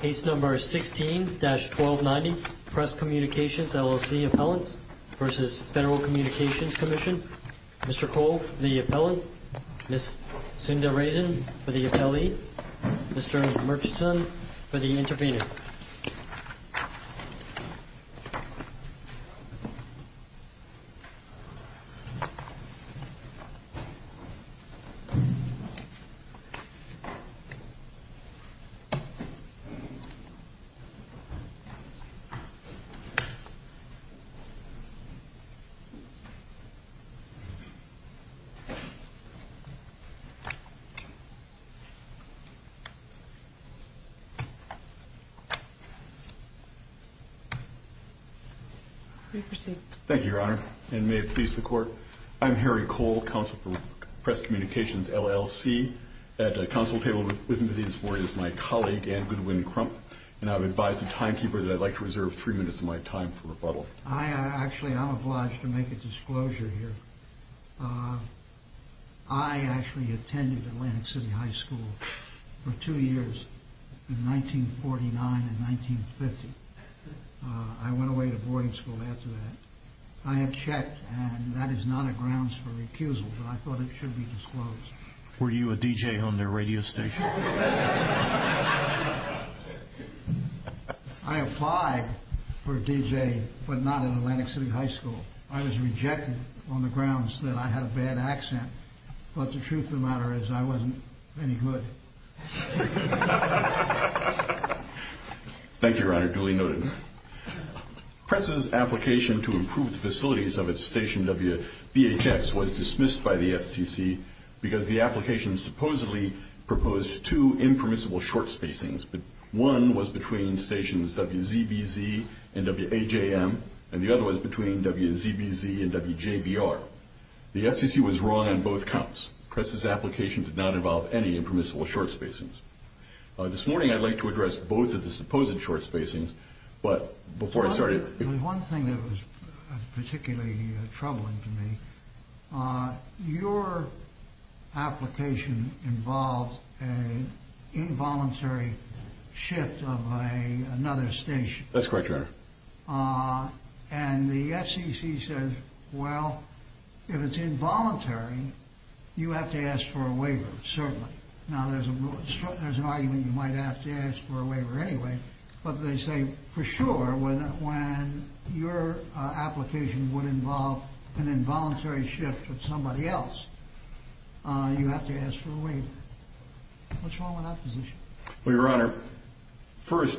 Case No. 16-1290, Press Communications, LLC, Appellants v. Federal Communications Commission Mr. Cole for the Appellant, Ms. Sunda Raison for the Appellee, Mr. Murchison for the Intervenor Thank you, Your Honor, and may it please the Court, I'm Harry Cole, Counsel for Press Communications LLC. At the Counsel table with me this morning is my colleague, Anne Goodwin Crump, and I would advise the timekeeper that I'd like to reserve three minutes of my time for rebuttal. I actually am obliged to make a disclosure here. I actually attended Atlantic City High School for two years in 1949 and 1950. I went away to boarding school after that. I had checked, and that is not a grounds for recusal, but I thought it should be disclosed. Were you a DJ on their radio station? I applied for a DJ, but not at Atlantic City High School. I was rejected on the grounds that I had a bad accent, but the truth of the matter is I wasn't any good. Thank you, Your Honor, duly noted. Press's application to improve the facilities of its station, WBHX, was dismissed by the SEC because the application supposedly proposed two impermissible short spacings, but one was between stations WZBZ and WAJM, and the other was between WZBZ and WJBR. The SEC was wrong on both counts. Press's application did not involve any impermissible short spacings. This morning, I'd like to address both of the supposed short spacings, but before I start... Your Honor, there was one thing that was particularly troubling to me. Your application involved an involuntary shift of another station. That's correct, Your Honor. And the SEC says, well, if it's involuntary, you have to ask for a waiver, certainly. Now, there's an argument you might have to ask for a waiver anyway, but they say, for sure, when your application would involve an involuntary shift of somebody else, you have to ask for a waiver. What's wrong with that position? Well, Your Honor, first,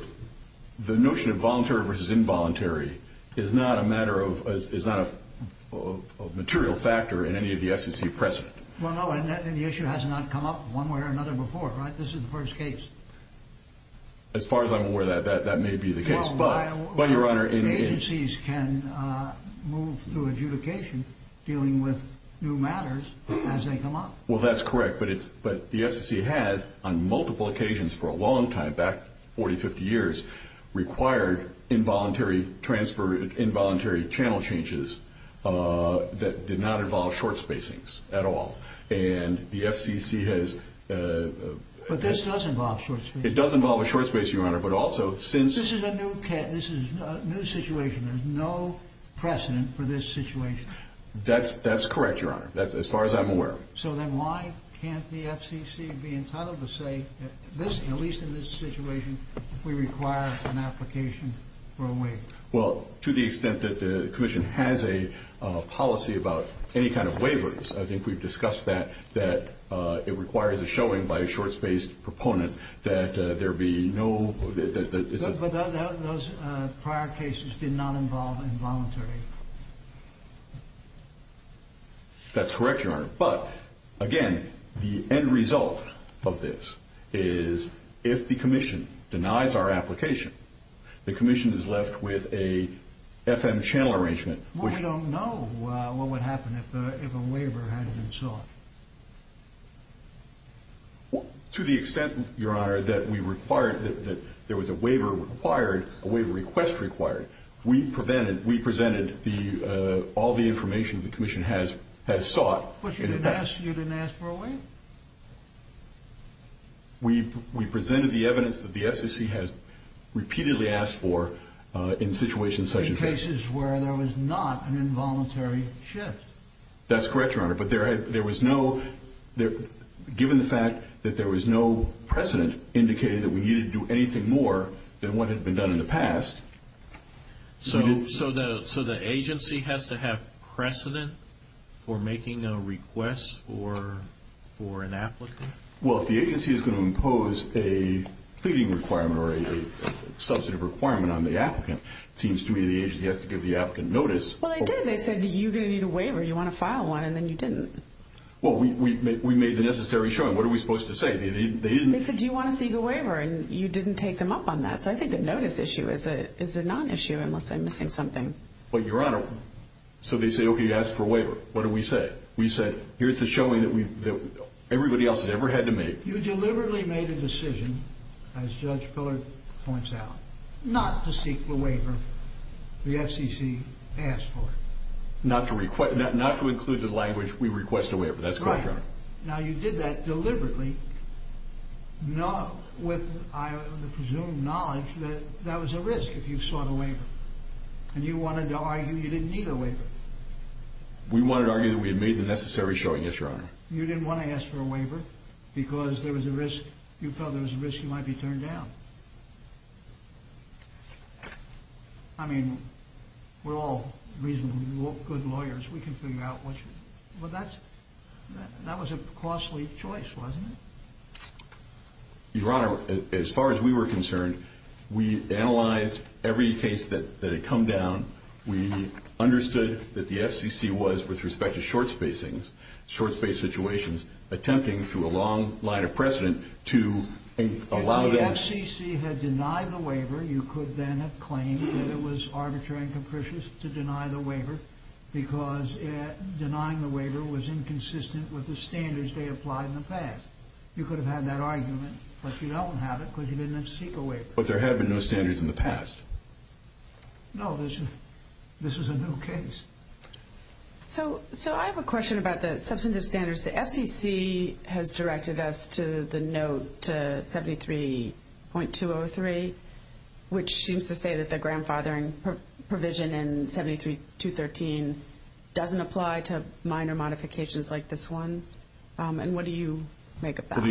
the notion of voluntary versus involuntary is not a matter of... is not a material factor in any of the SEC precedent. Well, no, and the issue has not come up one way or another before, right? This is the first case. As far as I'm aware, that may be the case, but... Well, why... But, Your Honor, in... Agencies can move through adjudication dealing with new matters as they come up. Well, that's correct, but it's... but the SEC has, on multiple occasions for a long time, back 40, 50 years, required involuntary transfer... involuntary channel changes that did not involve short spacings at all, and the SEC has... But this does involve short spacings. It does involve a short spacing, Your Honor, but also, since... This is a new... this is a new situation. There's no precedent for this situation. That's... that's correct, Your Honor, as far as I'm aware. So then why can't the FCC be entitled to say that this, at least in this situation, we require an application for a waiver? Well, to the extent that the Commission has a policy about any kind of waivers, I think we've discussed that, that it requires a showing by a short-spaced proponent that there be no... that... But those prior cases did not involve involuntary... That's correct, Your Honor, but, again, the end result of this is, if the Commission denies our application, the Commission is left with a FM channel arrangement, which... Well, we don't know what would happen if a waiver had been sought. Well, to the extent, Your Honor, that we required... that there was a waiver required, a waiver request required, we prevented... we presented the... all the information the Commission has sought... But you didn't ask... you didn't ask for a waiver? We presented the evidence that the FCC has repeatedly asked for in situations such as this. In cases where there was not an involuntary shift. That's correct, Your Honor, but there was no... given the fact that there was no precedent indicating that we needed to do anything more than what had been done in the past... So the agency has to have precedent for making a request for an applicant? Well, if the agency is going to impose a pleading requirement or a substantive requirement on the applicant, it seems to me the agency has to give the applicant notice... Well, they did. They said, you're going to need a waiver. You want to file one, and then you didn't. Well, we made the necessary showing. What are we supposed to say? They didn't... They said, do you want to seek a waiver? And you didn't take them up on that. So I think the notice issue is a non-issue, unless I'm missing something. Well, Your Honor, so they say, okay, you asked for a waiver. What do we say? We say, here's the showing that everybody else has ever had to make. You deliberately made a decision, as Judge Pillard points out, not to seek the waiver the FCC asked for. Not to include the language, we request a waiver. That's correct, Your Honor. Right. Now, you did that deliberately with the presumed knowledge that that was a risk if you sought a waiver, and you wanted to argue you didn't need a waiver. We wanted to argue that we had made the necessary showing, yes, Your Honor. You didn't want to ask for a waiver because there was a risk, you felt there was a risk you might be turned down. I mean, we're all reasonably good lawyers. We can figure out what you... Well, that was a costly choice, wasn't it? Your Honor, as far as we were concerned, we analyzed every case that had come down. We understood that the FCC was, with respect to short spacings, short space situations, attempting through a long line of precedent to allow them... If the FCC had denied the waiver, you could then have claimed that it was arbitrary and capricious to deny the waiver because denying the waiver was inconsistent with the standards they applied in the past. You could have had that argument, but you don't have it because you didn't seek a waiver. But there have been no standards in the past. No, this was a new case. So I have a question about the substantive standards. The FCC has directed us to the note 73.203, which seems to say that the grandfathering provision in 73.213 doesn't apply to minor modifications like this one. Well, the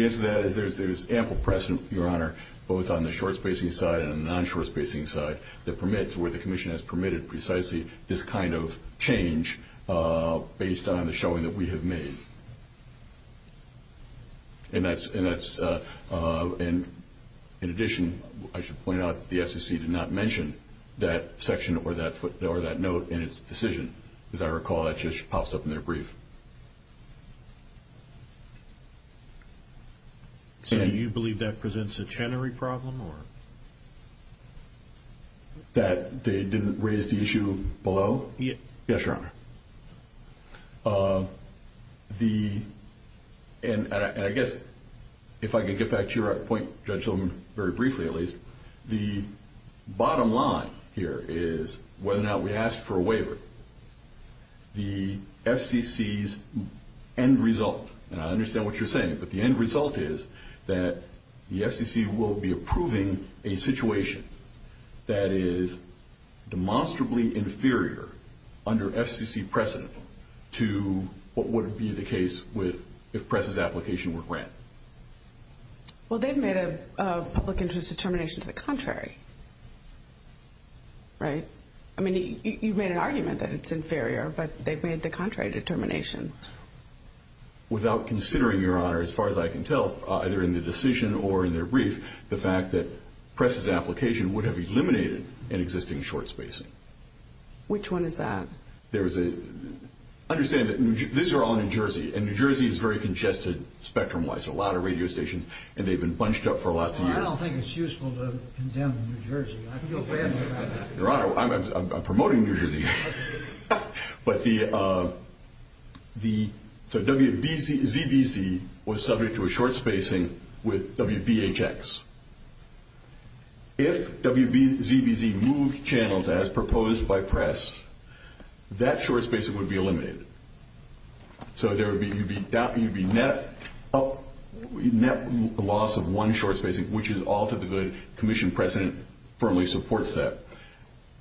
answer to that is there's ample precedent, Your Honor, both on the short spacing side and the non-short spacing side, that permits where the Commission has permitted precisely this kind of change based on the showing that we have made. In addition, I should point out that the FCC did not mention that section or that note in its decision. As I recall, that just pops up in their brief. So do you believe that presents a chenary problem? That they didn't raise the issue below? Yes, Your Honor. And I guess if I could get back to your point, Judge Silverman, very briefly at least, the bottom line here is whether or not we ask for a waiver, the FCC's end result, and I understand what you're saying, but the end result is that the FCC will be approving a situation that is demonstrably inferior under FCC precedent to what would be the case if PRESS's application were grant. Well, they've made a public interest determination to the contrary, right? I mean, you've made an argument that it's inferior, but they've made the contrary determination. Without considering, Your Honor, as far as I can tell, either in the decision or in their brief, the fact that PRESS's application would have eliminated an existing short spacing. Which one is that? Understand that these are all New Jersey, and New Jersey is very congested spectrum-wise, a lot of radio stations, and they've been bunched up for lots of years. Well, I don't think it's useful to condemn New Jersey. I feel bad about that. Your Honor, I'm promoting New Jersey. But the WBZBC was subject to a short spacing with WBHX. If WBZBC moved channels as proposed by PRESS, that short spacing would be eliminated. So there would be net loss of one short spacing, which is all to the good commission precedent firmly supports that.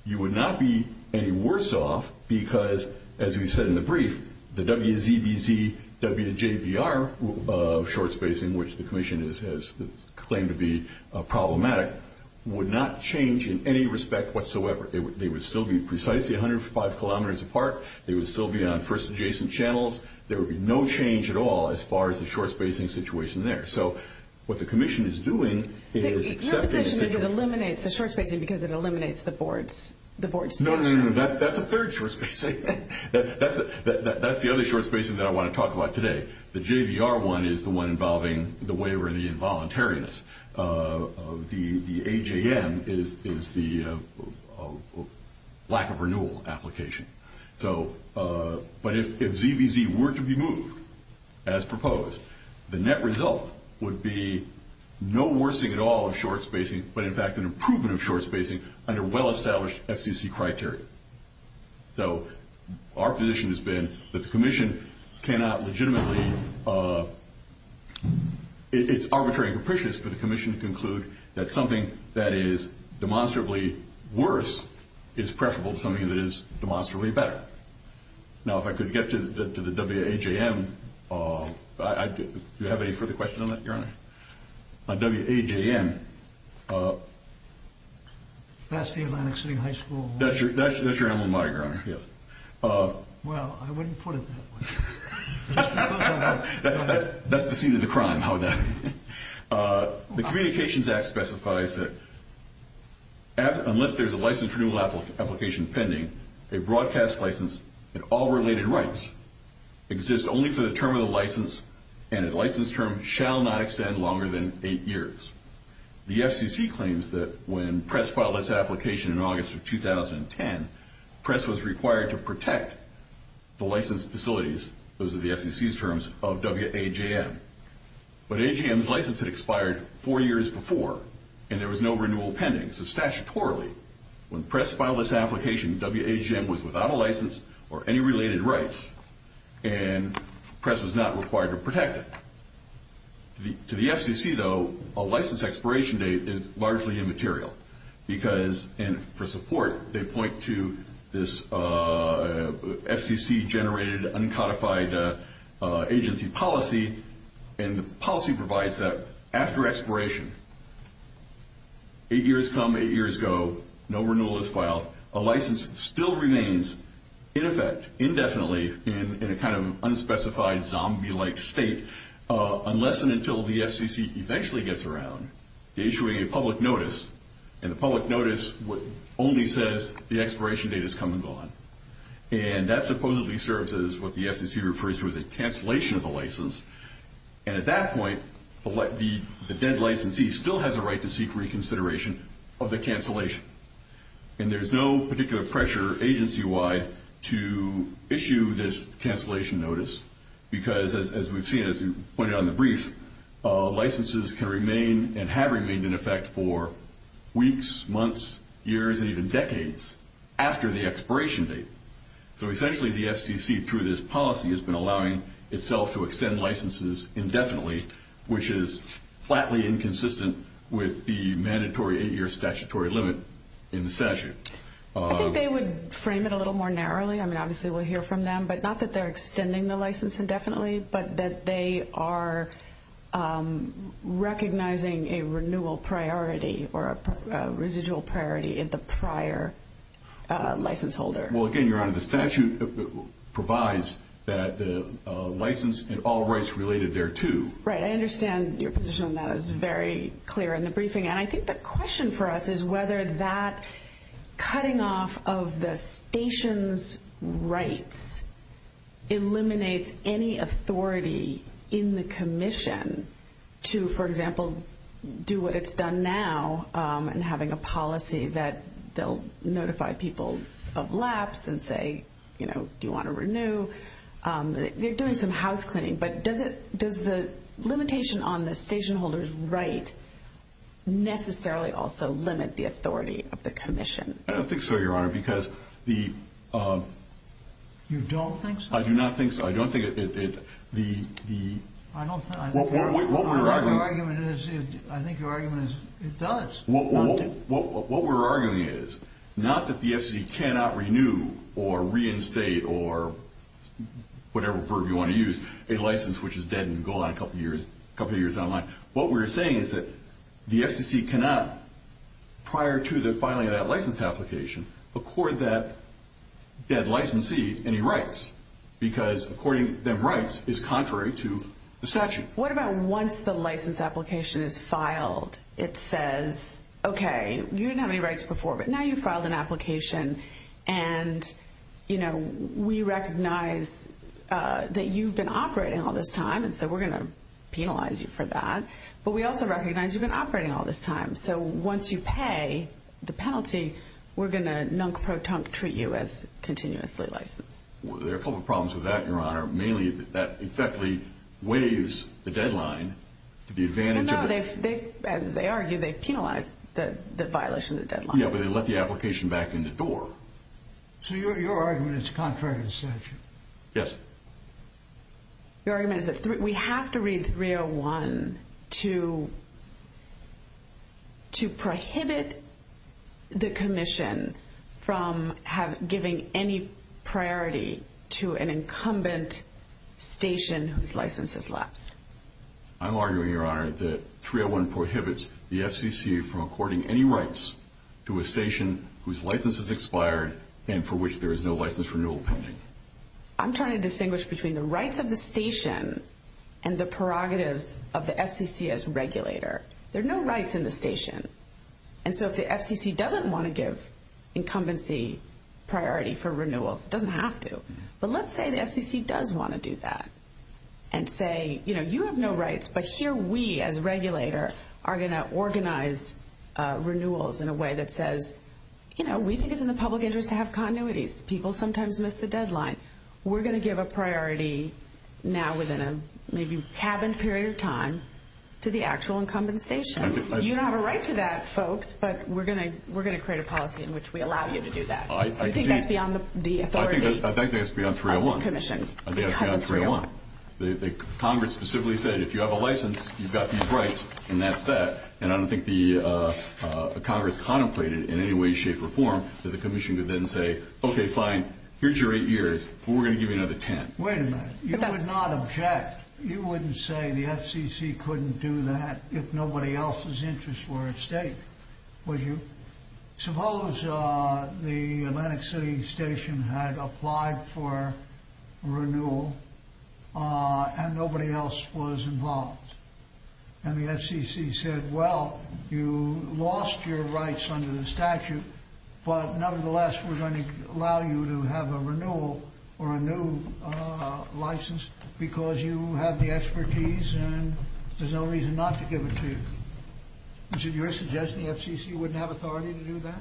You would not be any worse off because, as we said in the brief, the WZBZWJBR short spacing, which the commission has claimed to be problematic, would not change in any respect whatsoever. They would still be precisely 105 kilometers apart. They would still be on first adjacent channels. There would be no change at all as far as the short spacing situation there. So what the commission is doing is accepting the situation. Your position is it eliminates the short spacing because it eliminates the board's statute. No, no, no, that's a third short spacing. That's the other short spacing that I want to talk about today. The JBR one is the one involving the waiver and the involuntariness. The AJM is the lack of renewal application. But if WZBZ were to be moved as proposed, the net result would be no worsening at all of short spacing, but in fact an improvement of short spacing under well-established FCC criteria. So our position has been that the commission cannot legitimately – it's arbitrary and capricious for the commission to conclude that something that is demonstrably worse is preferable to something that is demonstrably better. Now, if I could get to the WAJM. Do you have any further questions on that, Your Honor? On WAJM. That's the Atlantic City High School. That's your emblematic, Your Honor. Well, I wouldn't put it that way. That's the scene of the crime. The Communications Act specifies that unless there's a license for renewal application pending, a broadcast license in all related rights exists only for the term of the license, and a license term shall not extend longer than eight years. The FCC claims that when PRESS filed its application in August of 2010, PRESS was required to protect the licensed facilities, those are the FCC's terms, of WAJM. But AGM's license had expired four years before, and there was no renewal pending. So statutorily, when PRESS filed its application, WAJM was without a license or any related rights, and PRESS was not required to protect it. To the FCC, though, a license expiration date is largely immaterial. Because for support, they point to this FCC-generated, uncodified agency policy, and the policy provides that after expiration, eight years come, eight years go, no renewal is filed, a license still remains, in effect, indefinitely, in a kind of unspecified zombie-like state, unless and until the FCC eventually gets around to issuing a public notice, and the public notice only says the expiration date has come and gone. And that supposedly serves as what the FCC refers to as a cancellation of the license, and at that point, the dead licensee still has a right to seek reconsideration of the cancellation. And there's no particular pressure agency-wide to issue this cancellation notice, because as we've seen, as you pointed out in the brief, licenses can remain and have remained, in effect, for weeks, months, years, and even decades after the expiration date. So essentially, the FCC, through this policy, has been allowing itself to extend licenses indefinitely, which is flatly inconsistent with the mandatory eight-year statutory limit in the statute. I think they would frame it a little more narrowly. I mean, obviously, we'll hear from them, but not that they're extending the license indefinitely, but that they are recognizing a renewal priority or a residual priority in the prior license holder. Well, again, Your Honor, the statute provides that license and all rights related thereto. Right. I understand your position on that is very clear in the briefing, and I think the question for us is whether that cutting off of the station's rights eliminates any authority in the commission to, for example, do what it's done now in having a policy that they'll notify people of lapse and say, you know, do you want to renew. They're doing some housecleaning, but does the limitation on the station holder's right necessarily also limit the authority of the commission? I don't think so, Your Honor, because the— You don't think so? I do not think so. I don't think it— The— I don't think— What we're arguing— I think your argument is—I think your argument is it does. What we're arguing is not that the FCC cannot renew or reinstate or whatever verb you want to use, a license which is dead and gone a couple of years down the line. What we're saying is that the FCC cannot, prior to the filing of that license application, accord that dead licensee any rights because according them rights is contrary to the statute. What about once the license application is filed? It says, okay, you didn't have any rights before, but now you've filed an application, and, you know, we recognize that you've been operating all this time, and so we're going to penalize you for that, but we also recognize you've been operating all this time. So once you pay the penalty, we're going to nunk-pro-tunk treat you as continuously licensed. There are a couple of problems with that, Your Honor, mainly that that effectively waives the deadline to the advantage of— No, no, they've—as they argue, they've penalized the violation of the deadline. Yeah, but they let the application back in the door. So your argument is it's contrary to the statute? Yes. Your argument is that we have to read 301 to prohibit the commission from giving any priority to an incumbent station whose license has lapsed. I'm arguing, Your Honor, that 301 prohibits the FCC from according any rights to a station whose license has expired and for which there is no license renewal pending. I'm trying to distinguish between the rights of the station and the prerogatives of the FCC as regulator. There are no rights in the station, and so if the FCC doesn't want to give incumbency priority for renewals, it doesn't have to, but let's say the FCC does want to do that and say, you know, you have no rights, but here we as regulator are going to organize renewals in a way that says, you know, we think it's in the public interest to have continuities. People sometimes miss the deadline. We're going to give a priority now within a maybe cabin period of time to the actual incumbent station. You don't have a right to that, folks, but we're going to create a policy in which we allow you to do that. I think that's beyond the authority of the commission because of 301. I think that's beyond 301. Congress specifically said if you have a license, you've got these rights, and that's that, and I don't think the Congress contemplated in any way, shape, or form that the commission could then say, okay, fine, here's your eight years, but we're going to give you another ten. Wait a minute. You would not object. You wouldn't say the FCC couldn't do that if nobody else's interests were at stake, would you? Suppose the Atlantic City station had applied for renewal and nobody else was involved, and the FCC said, well, you lost your rights under the statute, but nevertheless we're going to allow you to have a renewal or a new license because you have the expertise and there's no reason not to give it to you. Is it your suggestion the FCC wouldn't have authority to do that?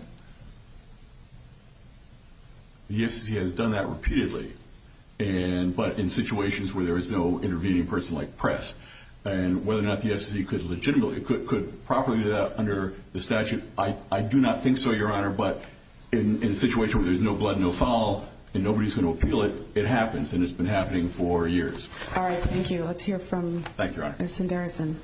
The FCC has done that repeatedly, but in situations where there is no intervening person like press, and whether or not the FCC could properly do that under the statute, I do not think so, Your Honor, but in a situation where there's no blood, no foul, and nobody's going to appeal it, it happens, and it's been happening for years. All right. Thank you. Let's hear from Ms. Sundararajan. Ms. Sundararajan.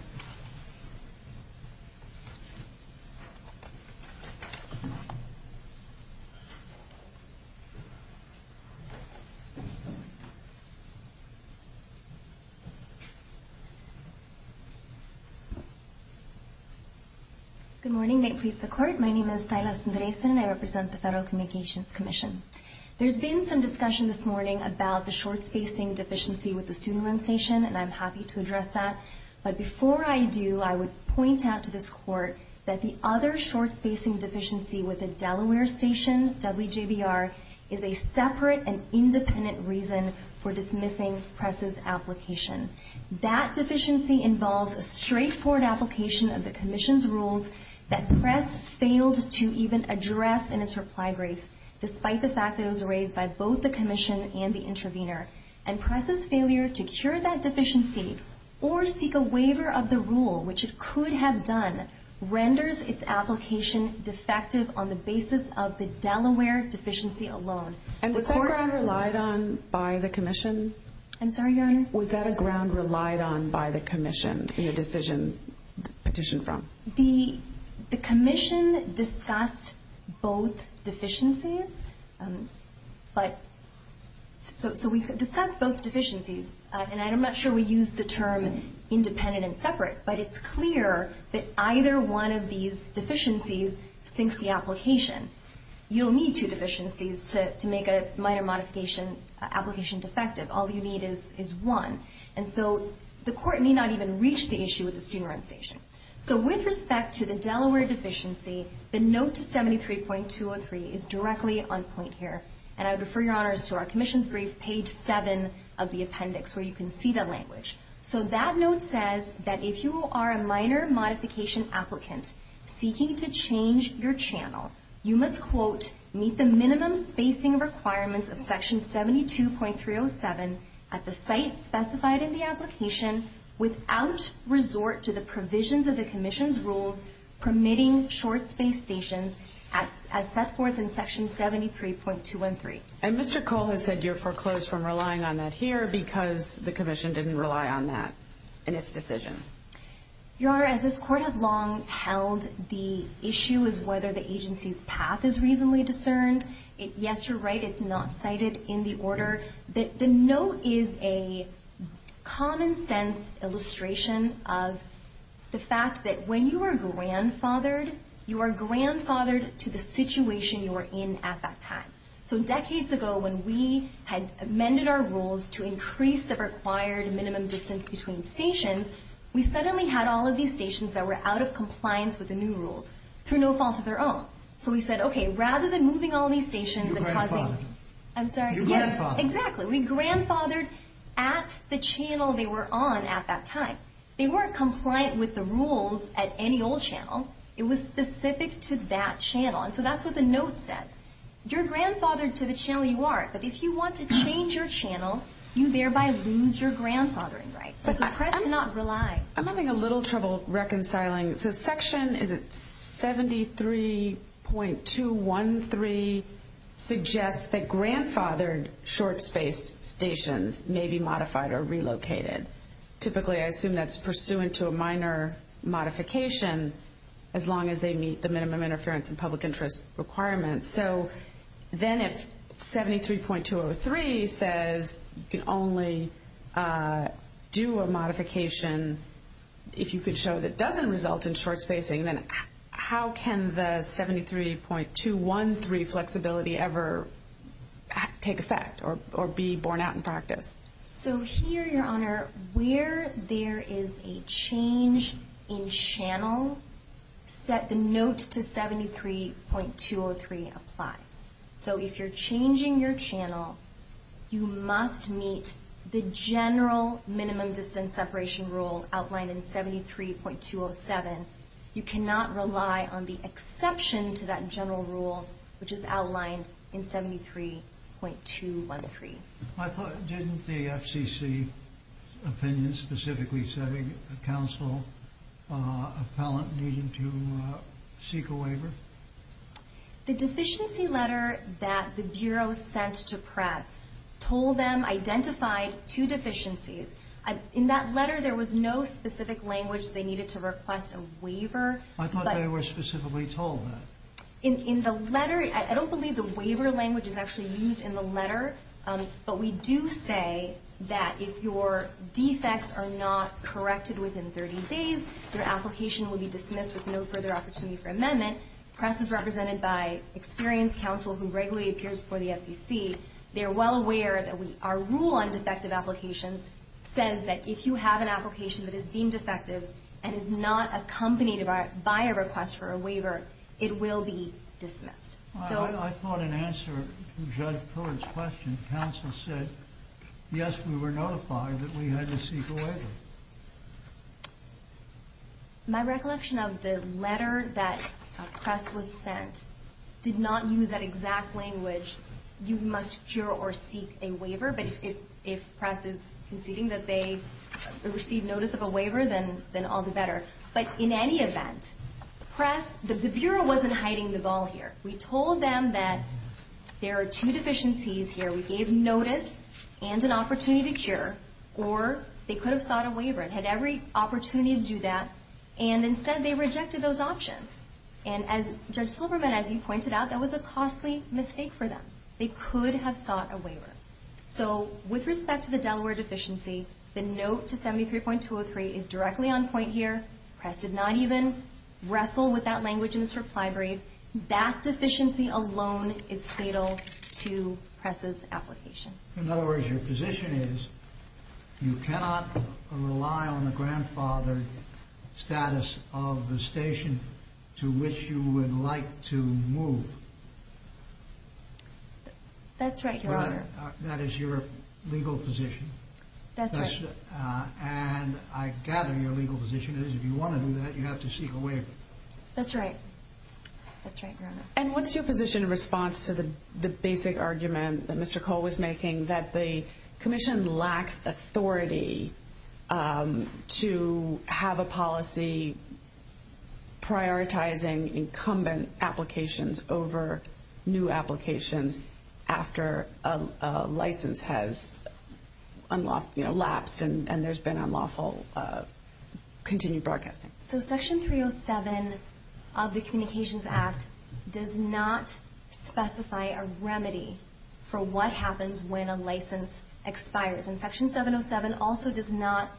Good morning. May it please the Court. My name is Thayla Sundararajan, and I represent the Federal Communications Commission. There's been some discussion this morning about the short-spacing deficiency with the student loan station, and I'm happy to address that, but before I do, I would point out to this Court that the other short-spacing deficiency with the Delaware station, WJBR, is a separate and independent reason for dismissing press's application. That deficiency involves a straightforward application of the Commission's rules that press failed to even address in its reply brief, despite the fact that it was raised by both the Commission and the intervener, and press's failure to cure that deficiency or seek a waiver of the rule, which it could have done, renders its application defective on the basis of the Delaware deficiency alone. And was that ground relied on by the Commission? I'm sorry, Your Honor? Was that a ground relied on by the Commission in the decision petitioned from? The Commission discussed both deficiencies, but so we discussed both deficiencies, and I'm not sure we used the term independent and separate, but it's clear that either one of these deficiencies sinks the application. You don't need two deficiencies to make a minor modification application defective. All you need is one, and so the Court may not even reach the issue with the student loan station. So with respect to the Delaware deficiency, the note to 73.203 is directly on point here, and I would refer Your Honors to our Commission's brief, page 7 of the appendix, where you can see the language. So that note says that if you are a minor modification applicant seeking to change your channel, you must, quote, meet the minimum spacing requirements of section 72.307 at the site specified in the application without resort to the provisions of the Commission's rules permitting short space stations as set forth in section 73.213. And Mr. Cole has said you're foreclosed from relying on that here because the Commission didn't rely on that in its decision. Your Honor, as this Court has long held, the issue is whether the agency's path is reasonably discerned. Yes, you're right, it's not cited in the order. The note is a common-sense illustration of the fact that when you are grandfathered, you are grandfathered to the situation you were in at that time. So decades ago when we had amended our rules to increase the required minimum distance between stations, we suddenly had all of these stations that were out of compliance with the new rules through no fault of their own. So we said, okay, rather than moving all these stations and causing... Exactly. We grandfathered at the channel they were on at that time. They weren't compliant with the rules at any old channel. It was specific to that channel. And so that's what the note says. You're grandfathered to the channel you are, but if you want to change your channel, you thereby lose your grandfathering rights. So the press cannot rely. I'm having a little trouble reconciling. So section, is it 73.213, suggests that grandfathered short-spaced stations may be modified or relocated. Typically, I assume that's pursuant to a minor modification as long as they meet the minimum interference and public interest requirements. So then if 73.203 says you can only do a modification, if you could show that doesn't result in short-spacing, then how can the 73.213 flexibility ever take effect or be borne out in practice? So here, Your Honor, where there is a change in channel, set the note to 73.203 applies. So if you're changing your channel, you must meet the general minimum distance separation rule outlined in 73.207. You cannot rely on the exception to that general rule, which is outlined in 73.213. I thought, didn't the FCC opinion specifically say a counsel appellant needed to seek a waiver? The deficiency letter that the Bureau sent to press told them, identified two deficiencies. In that letter, there was no specific language they needed to request a waiver. I thought they were specifically told that. In the letter, I don't believe the waiver language is actually used in the letter, but we do say that if your defects are not corrected within 30 days, your application will be dismissed with no further opportunity for amendment. Press is represented by experienced counsel who regularly appears before the FCC. They are well aware that our rule on defective applications says that if you have an application that is deemed defective and is not accompanied by a request for a waiver, it will be dismissed. I thought in answer to Judge Pruitt's question, counsel said, yes, we were notified that we had to seek a waiver. My recollection of the letter that press was sent did not use that exact language, you must cure or seek a waiver, but if press is conceding that they received notice of a waiver, then all the better. But in any event, the Bureau wasn't hiding the ball here. We told them that there are two deficiencies here. We gave notice and an opportunity to cure, or they could have sought a waiver and had every opportunity to do that, and instead they rejected those options. And as Judge Silberman, as you pointed out, that was a costly mistake for them. They could have sought a waiver. So with respect to the Delaware deficiency, the note to 73.203 is directly on point here. Press did not even wrestle with that language in its reply brief. That deficiency alone is fatal to press's application. In other words, your position is you cannot rely on the grandfather status of the station to which you would like to move. That's right, Your Honor. That is your legal position. That's right. And I gather your legal position is if you want to do that, you have to seek a waiver. That's right. That's right, Your Honor. And what's your position in response to the basic argument that Mr. Cole was making, that the commission lacks authority to have a policy prioritizing incumbent applications over new applications after a license has lapsed and there's been unlawful continued broadcasting? So Section 307 of the Communications Act does not specify a remedy for what happens when a license expires. And Section 707 also does not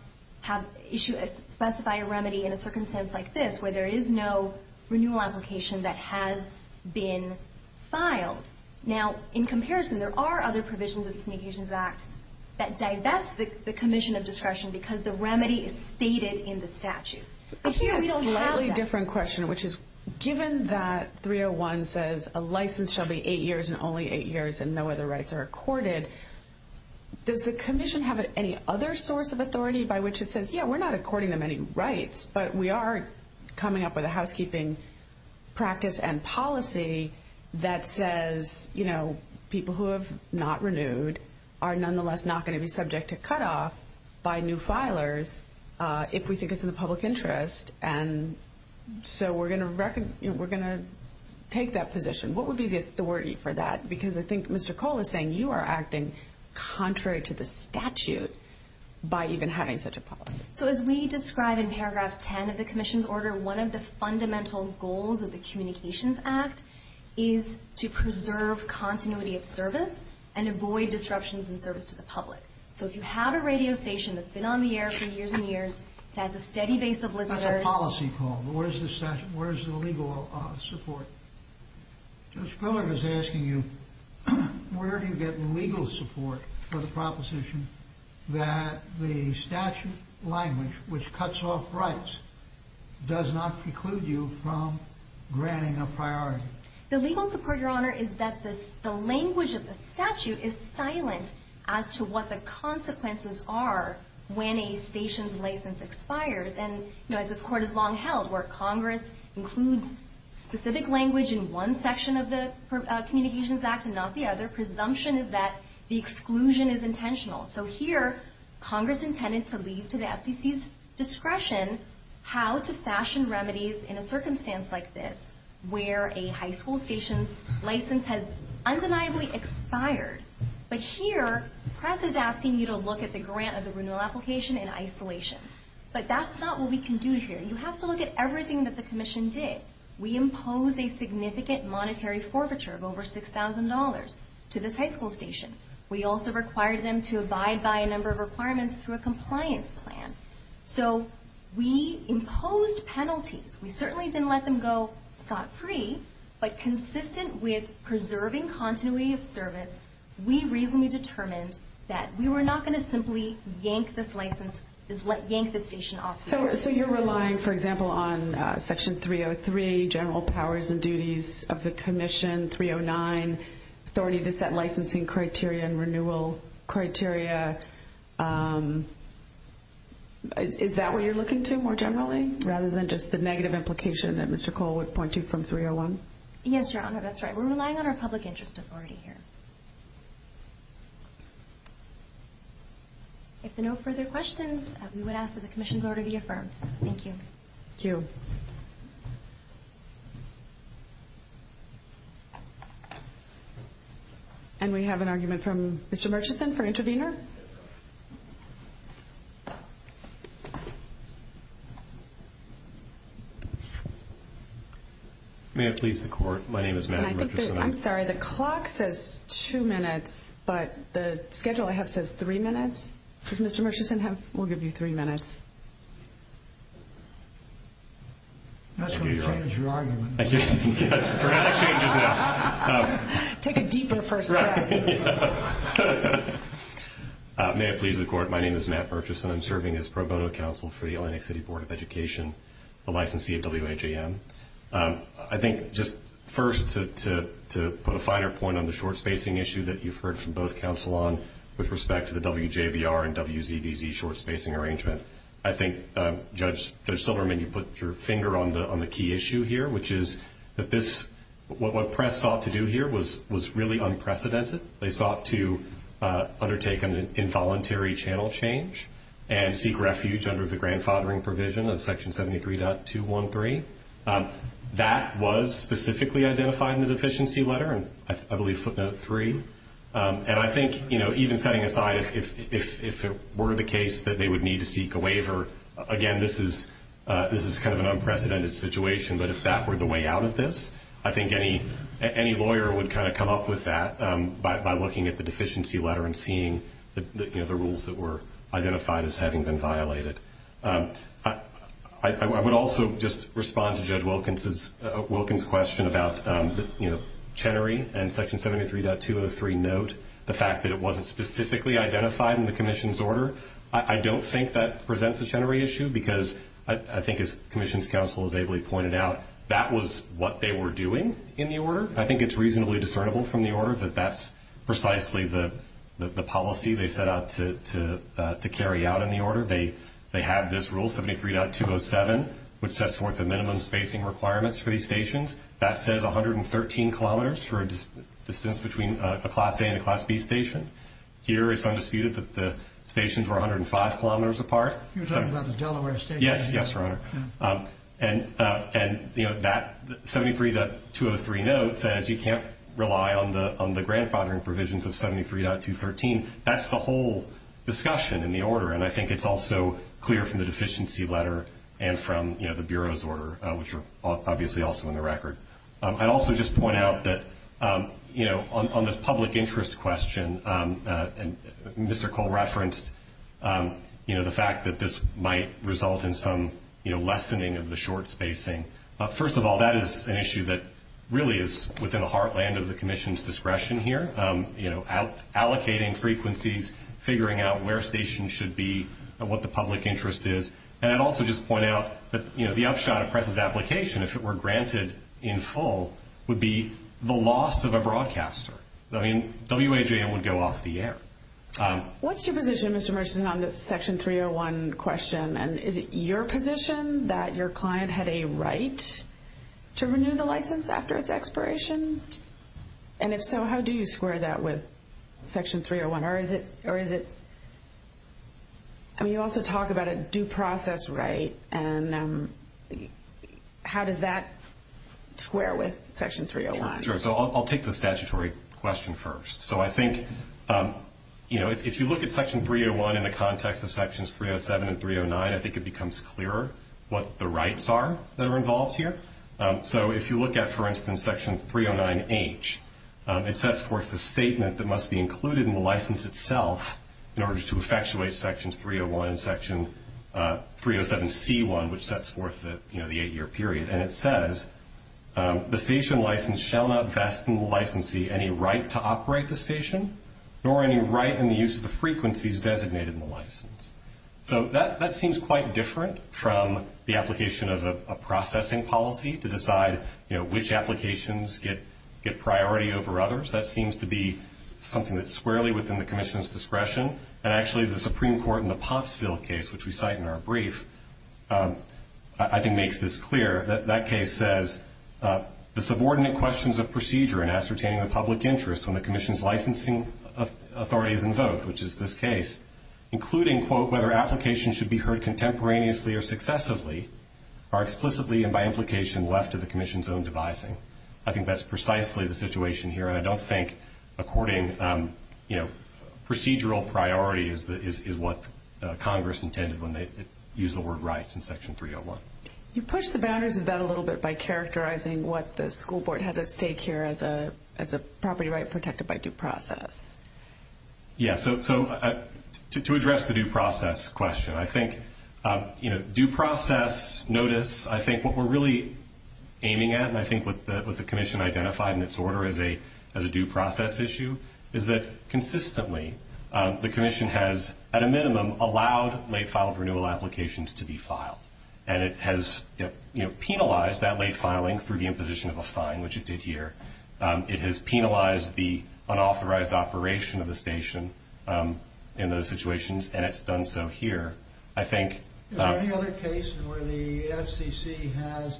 specify a remedy in a circumstance like this, where there is no renewal application that has been filed. Now, in comparison, there are other provisions of the Communications Act that divest the commission of discretion because the remedy is stated in the statute. Here we don't have that. A slightly different question, which is given that 301 says a license shall be eight years and only eight years and no other rights are accorded, does the commission have any other source of authority by which it says, yeah, we're not according them any rights, but we are coming up with a housekeeping practice and policy that says people who have not renewed are nonetheless not going to be subject to cutoff by new filers if we think it's in the public interest, and so we're going to take that position. What would be the authority for that? Because I think Mr. Cole is saying you are acting contrary to the statute by even having such a policy. So as we describe in Paragraph 10 of the commission's order, one of the fundamental goals of the Communications Act is to preserve continuity of service and avoid disruptions in service to the public. So if you have a radio station that's been on the air for years and years, has a steady base of listeners That's a policy call. Where is the legal support? Judge Piller is asking you, where do you get legal support for the proposition that the statute language, which cuts off rights, does not preclude you from granting a priority? The legal support, Your Honor, is that the language of the statute is silent as to what the consequences are when a station's license expires. And as this Court has long held, where Congress includes specific language in one section of the Communications Act and not the other, presumption is that the exclusion is intentional. So here, Congress intended to leave to the FCC's discretion how to fashion remedies in a circumstance like this, where a high school station's license has undeniably expired. But here, the press is asking you to look at the grant of the renewal application in isolation. But that's not what we can do here. You have to look at everything that the Commission did. We imposed a significant monetary forfeiture of over $6,000 to this high school station. We also required them to abide by a number of requirements through a compliance plan. So we imposed penalties. We certainly didn't let them go scot-free, but consistent with preserving continuity of service, we reasonably determined that we were not going to simply yank this license, yank this station off the board. So you're relying, for example, on Section 303, general powers and duties of the Commission, 309, authority to set licensing criteria and renewal criteria. Is that what you're looking to more generally, rather than just the negative implication that Mr. Cole would point to from 301? Yes, Your Honor, that's right. We're relying on our public interest authority here. If there are no further questions, we would ask that the Commission's order be affirmed. Thank you. Thank you. And we have an argument from Mr. Murchison for intervener. Mr. Murchison. May it please the Court, my name is Matt Murchison. I'm sorry, the clock says two minutes, but the schedule I have says three minutes. Does Mr. Murchison have, we'll give you three minutes. That's going to change your argument. Take a deeper perspective. May it please the Court, my name is Matt Murchison. I'm serving as pro bono counsel for the Atlantic City Board of Education, the licensee of WHAM. I think just first to put a finer point on the short spacing issue that you've heard from both counsel on, with respect to the WJBR and WZBZ short spacing arrangement, I think Judge Silverman, you put your finger on the key issue here, which is that this, what press sought to do here was really unprecedented. They sought to undertake an involuntary channel change and seek refuge under the grandfathering provision of Section 73.213. That was specifically identified in the deficiency letter, I believe footnote three. And I think even setting aside if it were the case that they would need to seek a waiver, again, this is kind of an unprecedented situation, but if that were the way out of this, I think any lawyer would kind of come up with that by looking at the deficiency letter and seeing the rules that were identified as having been violated. I would also just respond to Judge Wilkins' question about the, you know, Chenery and Section 73.203 note, the fact that it wasn't specifically identified in the commission's order. I don't think that presents a Chenery issue because I think as commission's counsel has ably pointed out, that was what they were doing in the order. I think it's reasonably discernible from the order that that's precisely the policy they set out to carry out in the order. They have this rule, 73.207, which sets forth the minimum spacing requirements for these stations. That says 113 kilometers for a distance between a Class A and a Class B station. Here it's undisputed that the stations were 105 kilometers apart. You're talking about the Delaware station? Yes. Yes, Your Honor. And, you know, that 73.203 note says you can't rely on the grandfathering provisions of 73.213. That's the whole discussion in the order, and I think it's also clear from the deficiency letter and from, you know, the Bureau's order, which are obviously also in the record. I'd also just point out that, you know, on this public interest question, Mr. Cole referenced, you know, the fact that this might result in some, you know, lessening of the short spacing. First of all, that is an issue that really is within the heartland of the commission's discretion here, you know, allocating frequencies, figuring out where stations should be, what the public interest is. And I'd also just point out that, you know, the upshot of PRESS's application, if it were granted in full, would be the loss of a broadcaster. I mean, WAJM would go off the air. What's your position, Mr. Murchison, on this Section 301 question? And is it your position that your client had a right to renew the license after its expiration? And if so, how do you square that with Section 301? Or is it, I mean, you also talk about a due process right. And how does that square with Section 301? Sure. So I'll take the statutory question first. So I think, you know, if you look at Section 301 in the context of Sections 307 and 309, I think it becomes clearer what the rights are that are involved here. So if you look at, for instance, Section 309H, it sets forth the statement that must be included in the license itself in order to effectuate Sections 301 and Section 307C1, which sets forth, you know, the eight-year period. And it says, the station license shall not vest in the licensee any right to operate the station, nor any right in the use of the frequencies designated in the license. So that seems quite different from the application of a processing policy to decide, you know, which applications get priority over others. That seems to be something that's squarely within the Commission's discretion. And actually the Supreme Court in the Popsville case, which we cite in our brief, I think makes this clear. That case says, the subordinate questions of procedure in ascertaining the public interest when the Commission's licensing authority is invoked, which is this case, including, quote, whether applications should be heard contemporaneously or successively are explicitly and by implication left to the Commission's own devising. I think that's precisely the situation here. And I don't think according, you know, procedural priority is what Congress intended when they used the word rights in Section 301. You push the boundaries of that a little bit by characterizing what the school board has at stake here as a property right protected by due process. Yeah, so to address the due process question, I think, you know, due process notice, I think what we're really aiming at, and I think what the Commission identified in its order as a due process issue, is that consistently the Commission has, at a minimum, allowed late filed renewal applications to be filed. And it has penalized that late filing through the imposition of a fine, which it did here. It has penalized the unauthorized operation of the station in those situations, and it's done so here. Is there any other case where the FCC has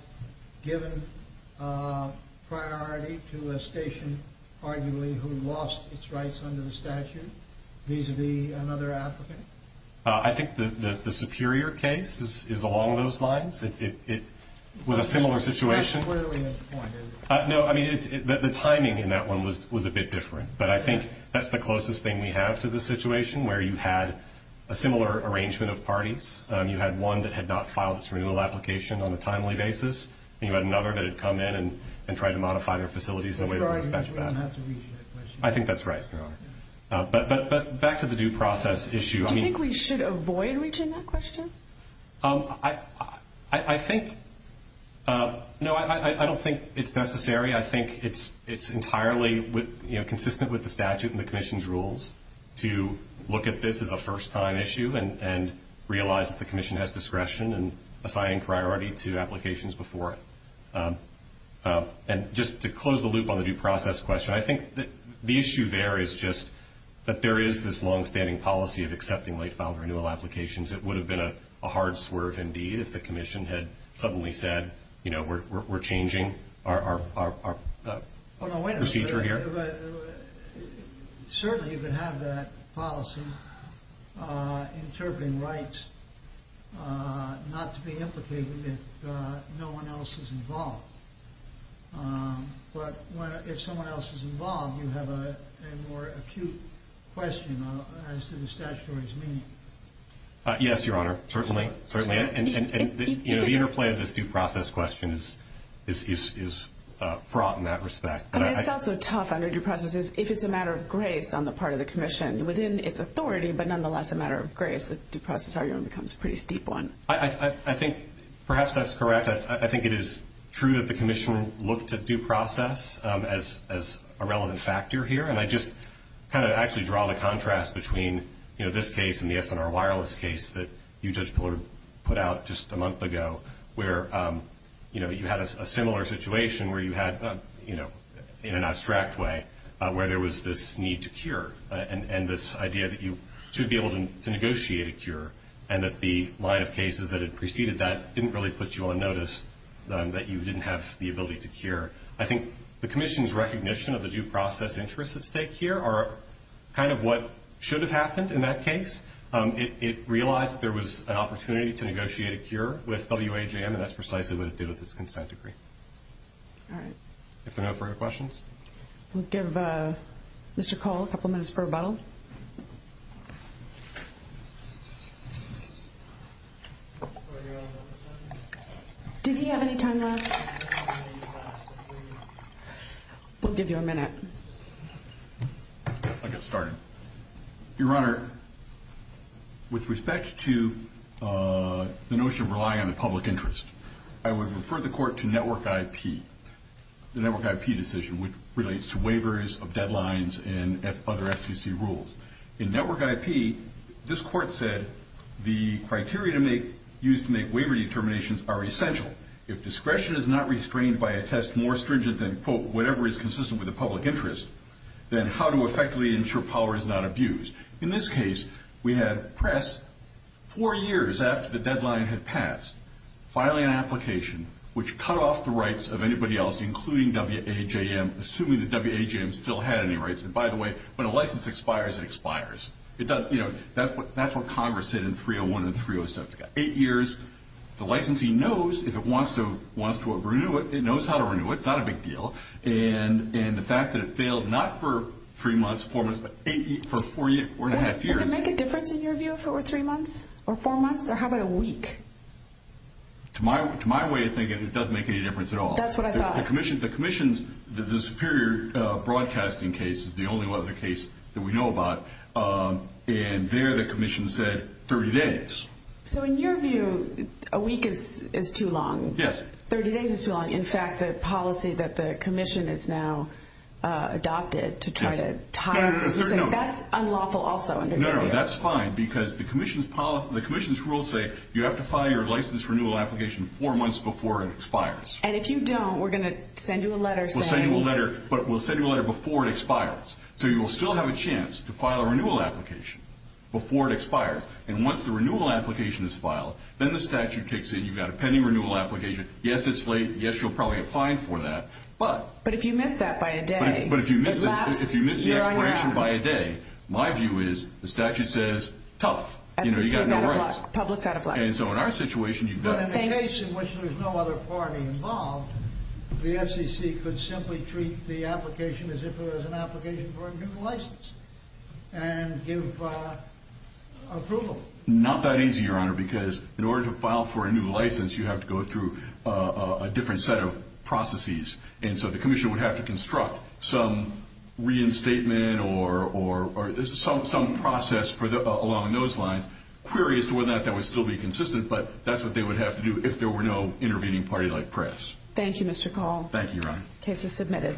given priority to a station, arguably, who lost its rights under the statute vis-à-vis another applicant? I think the Superior case is along those lines. It was a similar situation. That's clearly a point, isn't it? No, I mean, the timing in that one was a bit different. But I think that's the closest thing we have to the situation where you had a similar arrangement of parties. You had one that had not filed its renewal application on a timely basis, and you had another that had come in and tried to modify their facilities in a way that would affect that. I'm sorry, you didn't have to read that question. I think that's right, Your Honor. But back to the due process issue. Do you think we should avoid reaching that question? I think, no, I don't think it's necessary. I think it's entirely consistent with the statute and the Commission's rules to look at this as a first-time issue and realize that the Commission has discretion in assigning priority to applications before it. And just to close the loop on the due process question, I think the issue there is just that there is this longstanding policy of accepting late-filed renewal applications. It would have been a hard swerve indeed if the Commission had suddenly said, you know, we're changing our procedure here. Certainly you could have that policy interpreting rights not to be implicated if no one else is involved. But if someone else is involved, you have a more acute question as to the statutory's meaning. Yes, Your Honor, certainly. And the interplay of this due process question is fraught in that respect. I mean, it's also tough under due process if it's a matter of grace on the part of the Commission. Within its authority, but nonetheless a matter of grace, the due process argument becomes a pretty steep one. I think perhaps that's correct. I think it is true that the Commission looked at due process as a relevant factor here. And I just kind of actually draw the contrast between, you know, this case and the SNR wireless case that you, Judge Pillar, put out just a month ago where, you know, you had a similar situation where you had, you know, in an abstract way, where there was this need to cure and this idea that you should be able to negotiate a cure and that the line of cases that had preceded that didn't really put you on notice that you didn't have the ability to cure. I think the Commission's recognition of the due process interests at stake here are kind of what should have happened in that case. It realized that there was an opportunity to negotiate a cure with WAJM, and that's precisely what it did with its consent decree. All right. If there are no further questions. We'll give Mr. Cole a couple minutes for rebuttal. Did he have any time left? We'll give you a minute. I'll get started. Your Honor, with respect to the notion of relying on the public interest, I would refer the Court to Network IP, the Network IP decision, which relates to waivers of deadlines and other SEC rules. In Network IP, this Court said the criteria used to make waiver determinations are essential. If discretion is not restrained by a test more stringent than, quote, whatever is consistent with the public interest, then how to effectively ensure power is not abused. In this case, we had press four years after the deadline had passed filing an application, which cut off the rights of anybody else, including WAJM, assuming that WAJM still had any rights. And, by the way, when a license expires, it expires. That's what Congress said in 301 and 307. It's got eight years. The licensee knows if it wants to renew it. It knows how to renew it. It's not a big deal. And the fact that it failed not for three months, four months, but for four and a half years. Would it make a difference in your view if it were three months or four months? Or how about a week? To my way of thinking, it doesn't make any difference at all. That's what I thought. The Commission's Superior Broadcasting case is the only other case that we know about. And there the Commission said 30 days. So, in your view, a week is too long. Yes. 30 days is too long. In fact, the policy that the Commission has now adopted to try to tie this, that's unlawful also. No, no, that's fine. Because the Commission's rules say you have to file your license renewal application four months before it expires. And if you don't, we're going to send you a letter saying. We'll send you a letter, but we'll send you a letter before it expires. So, you will still have a chance to file a renewal application before it expires. And once the renewal application is filed, then the statute kicks in. You've got a pending renewal application. Yes, it's late. Yes, you'll probably get fined for that. But. But if you miss that by a day. But if you miss the expiration by a day, my view is the statute says tough. You know, you've got no rights. Public's out of luck. And so, in our situation, you've got. But in the case in which there's no other party involved, the FCC could simply treat the application as if it was an application for a new license. And give approval. Not that easy, Your Honor, because in order to file for a new license, you have to go through a different set of processes. And so, the commission would have to construct some reinstatement or some process along those lines. Query as to whether or not that would still be consistent, but that's what they would have to do if there were no intervening party like press. Thank you, Mr. Call. Thank you, Your Honor. Case is submitted.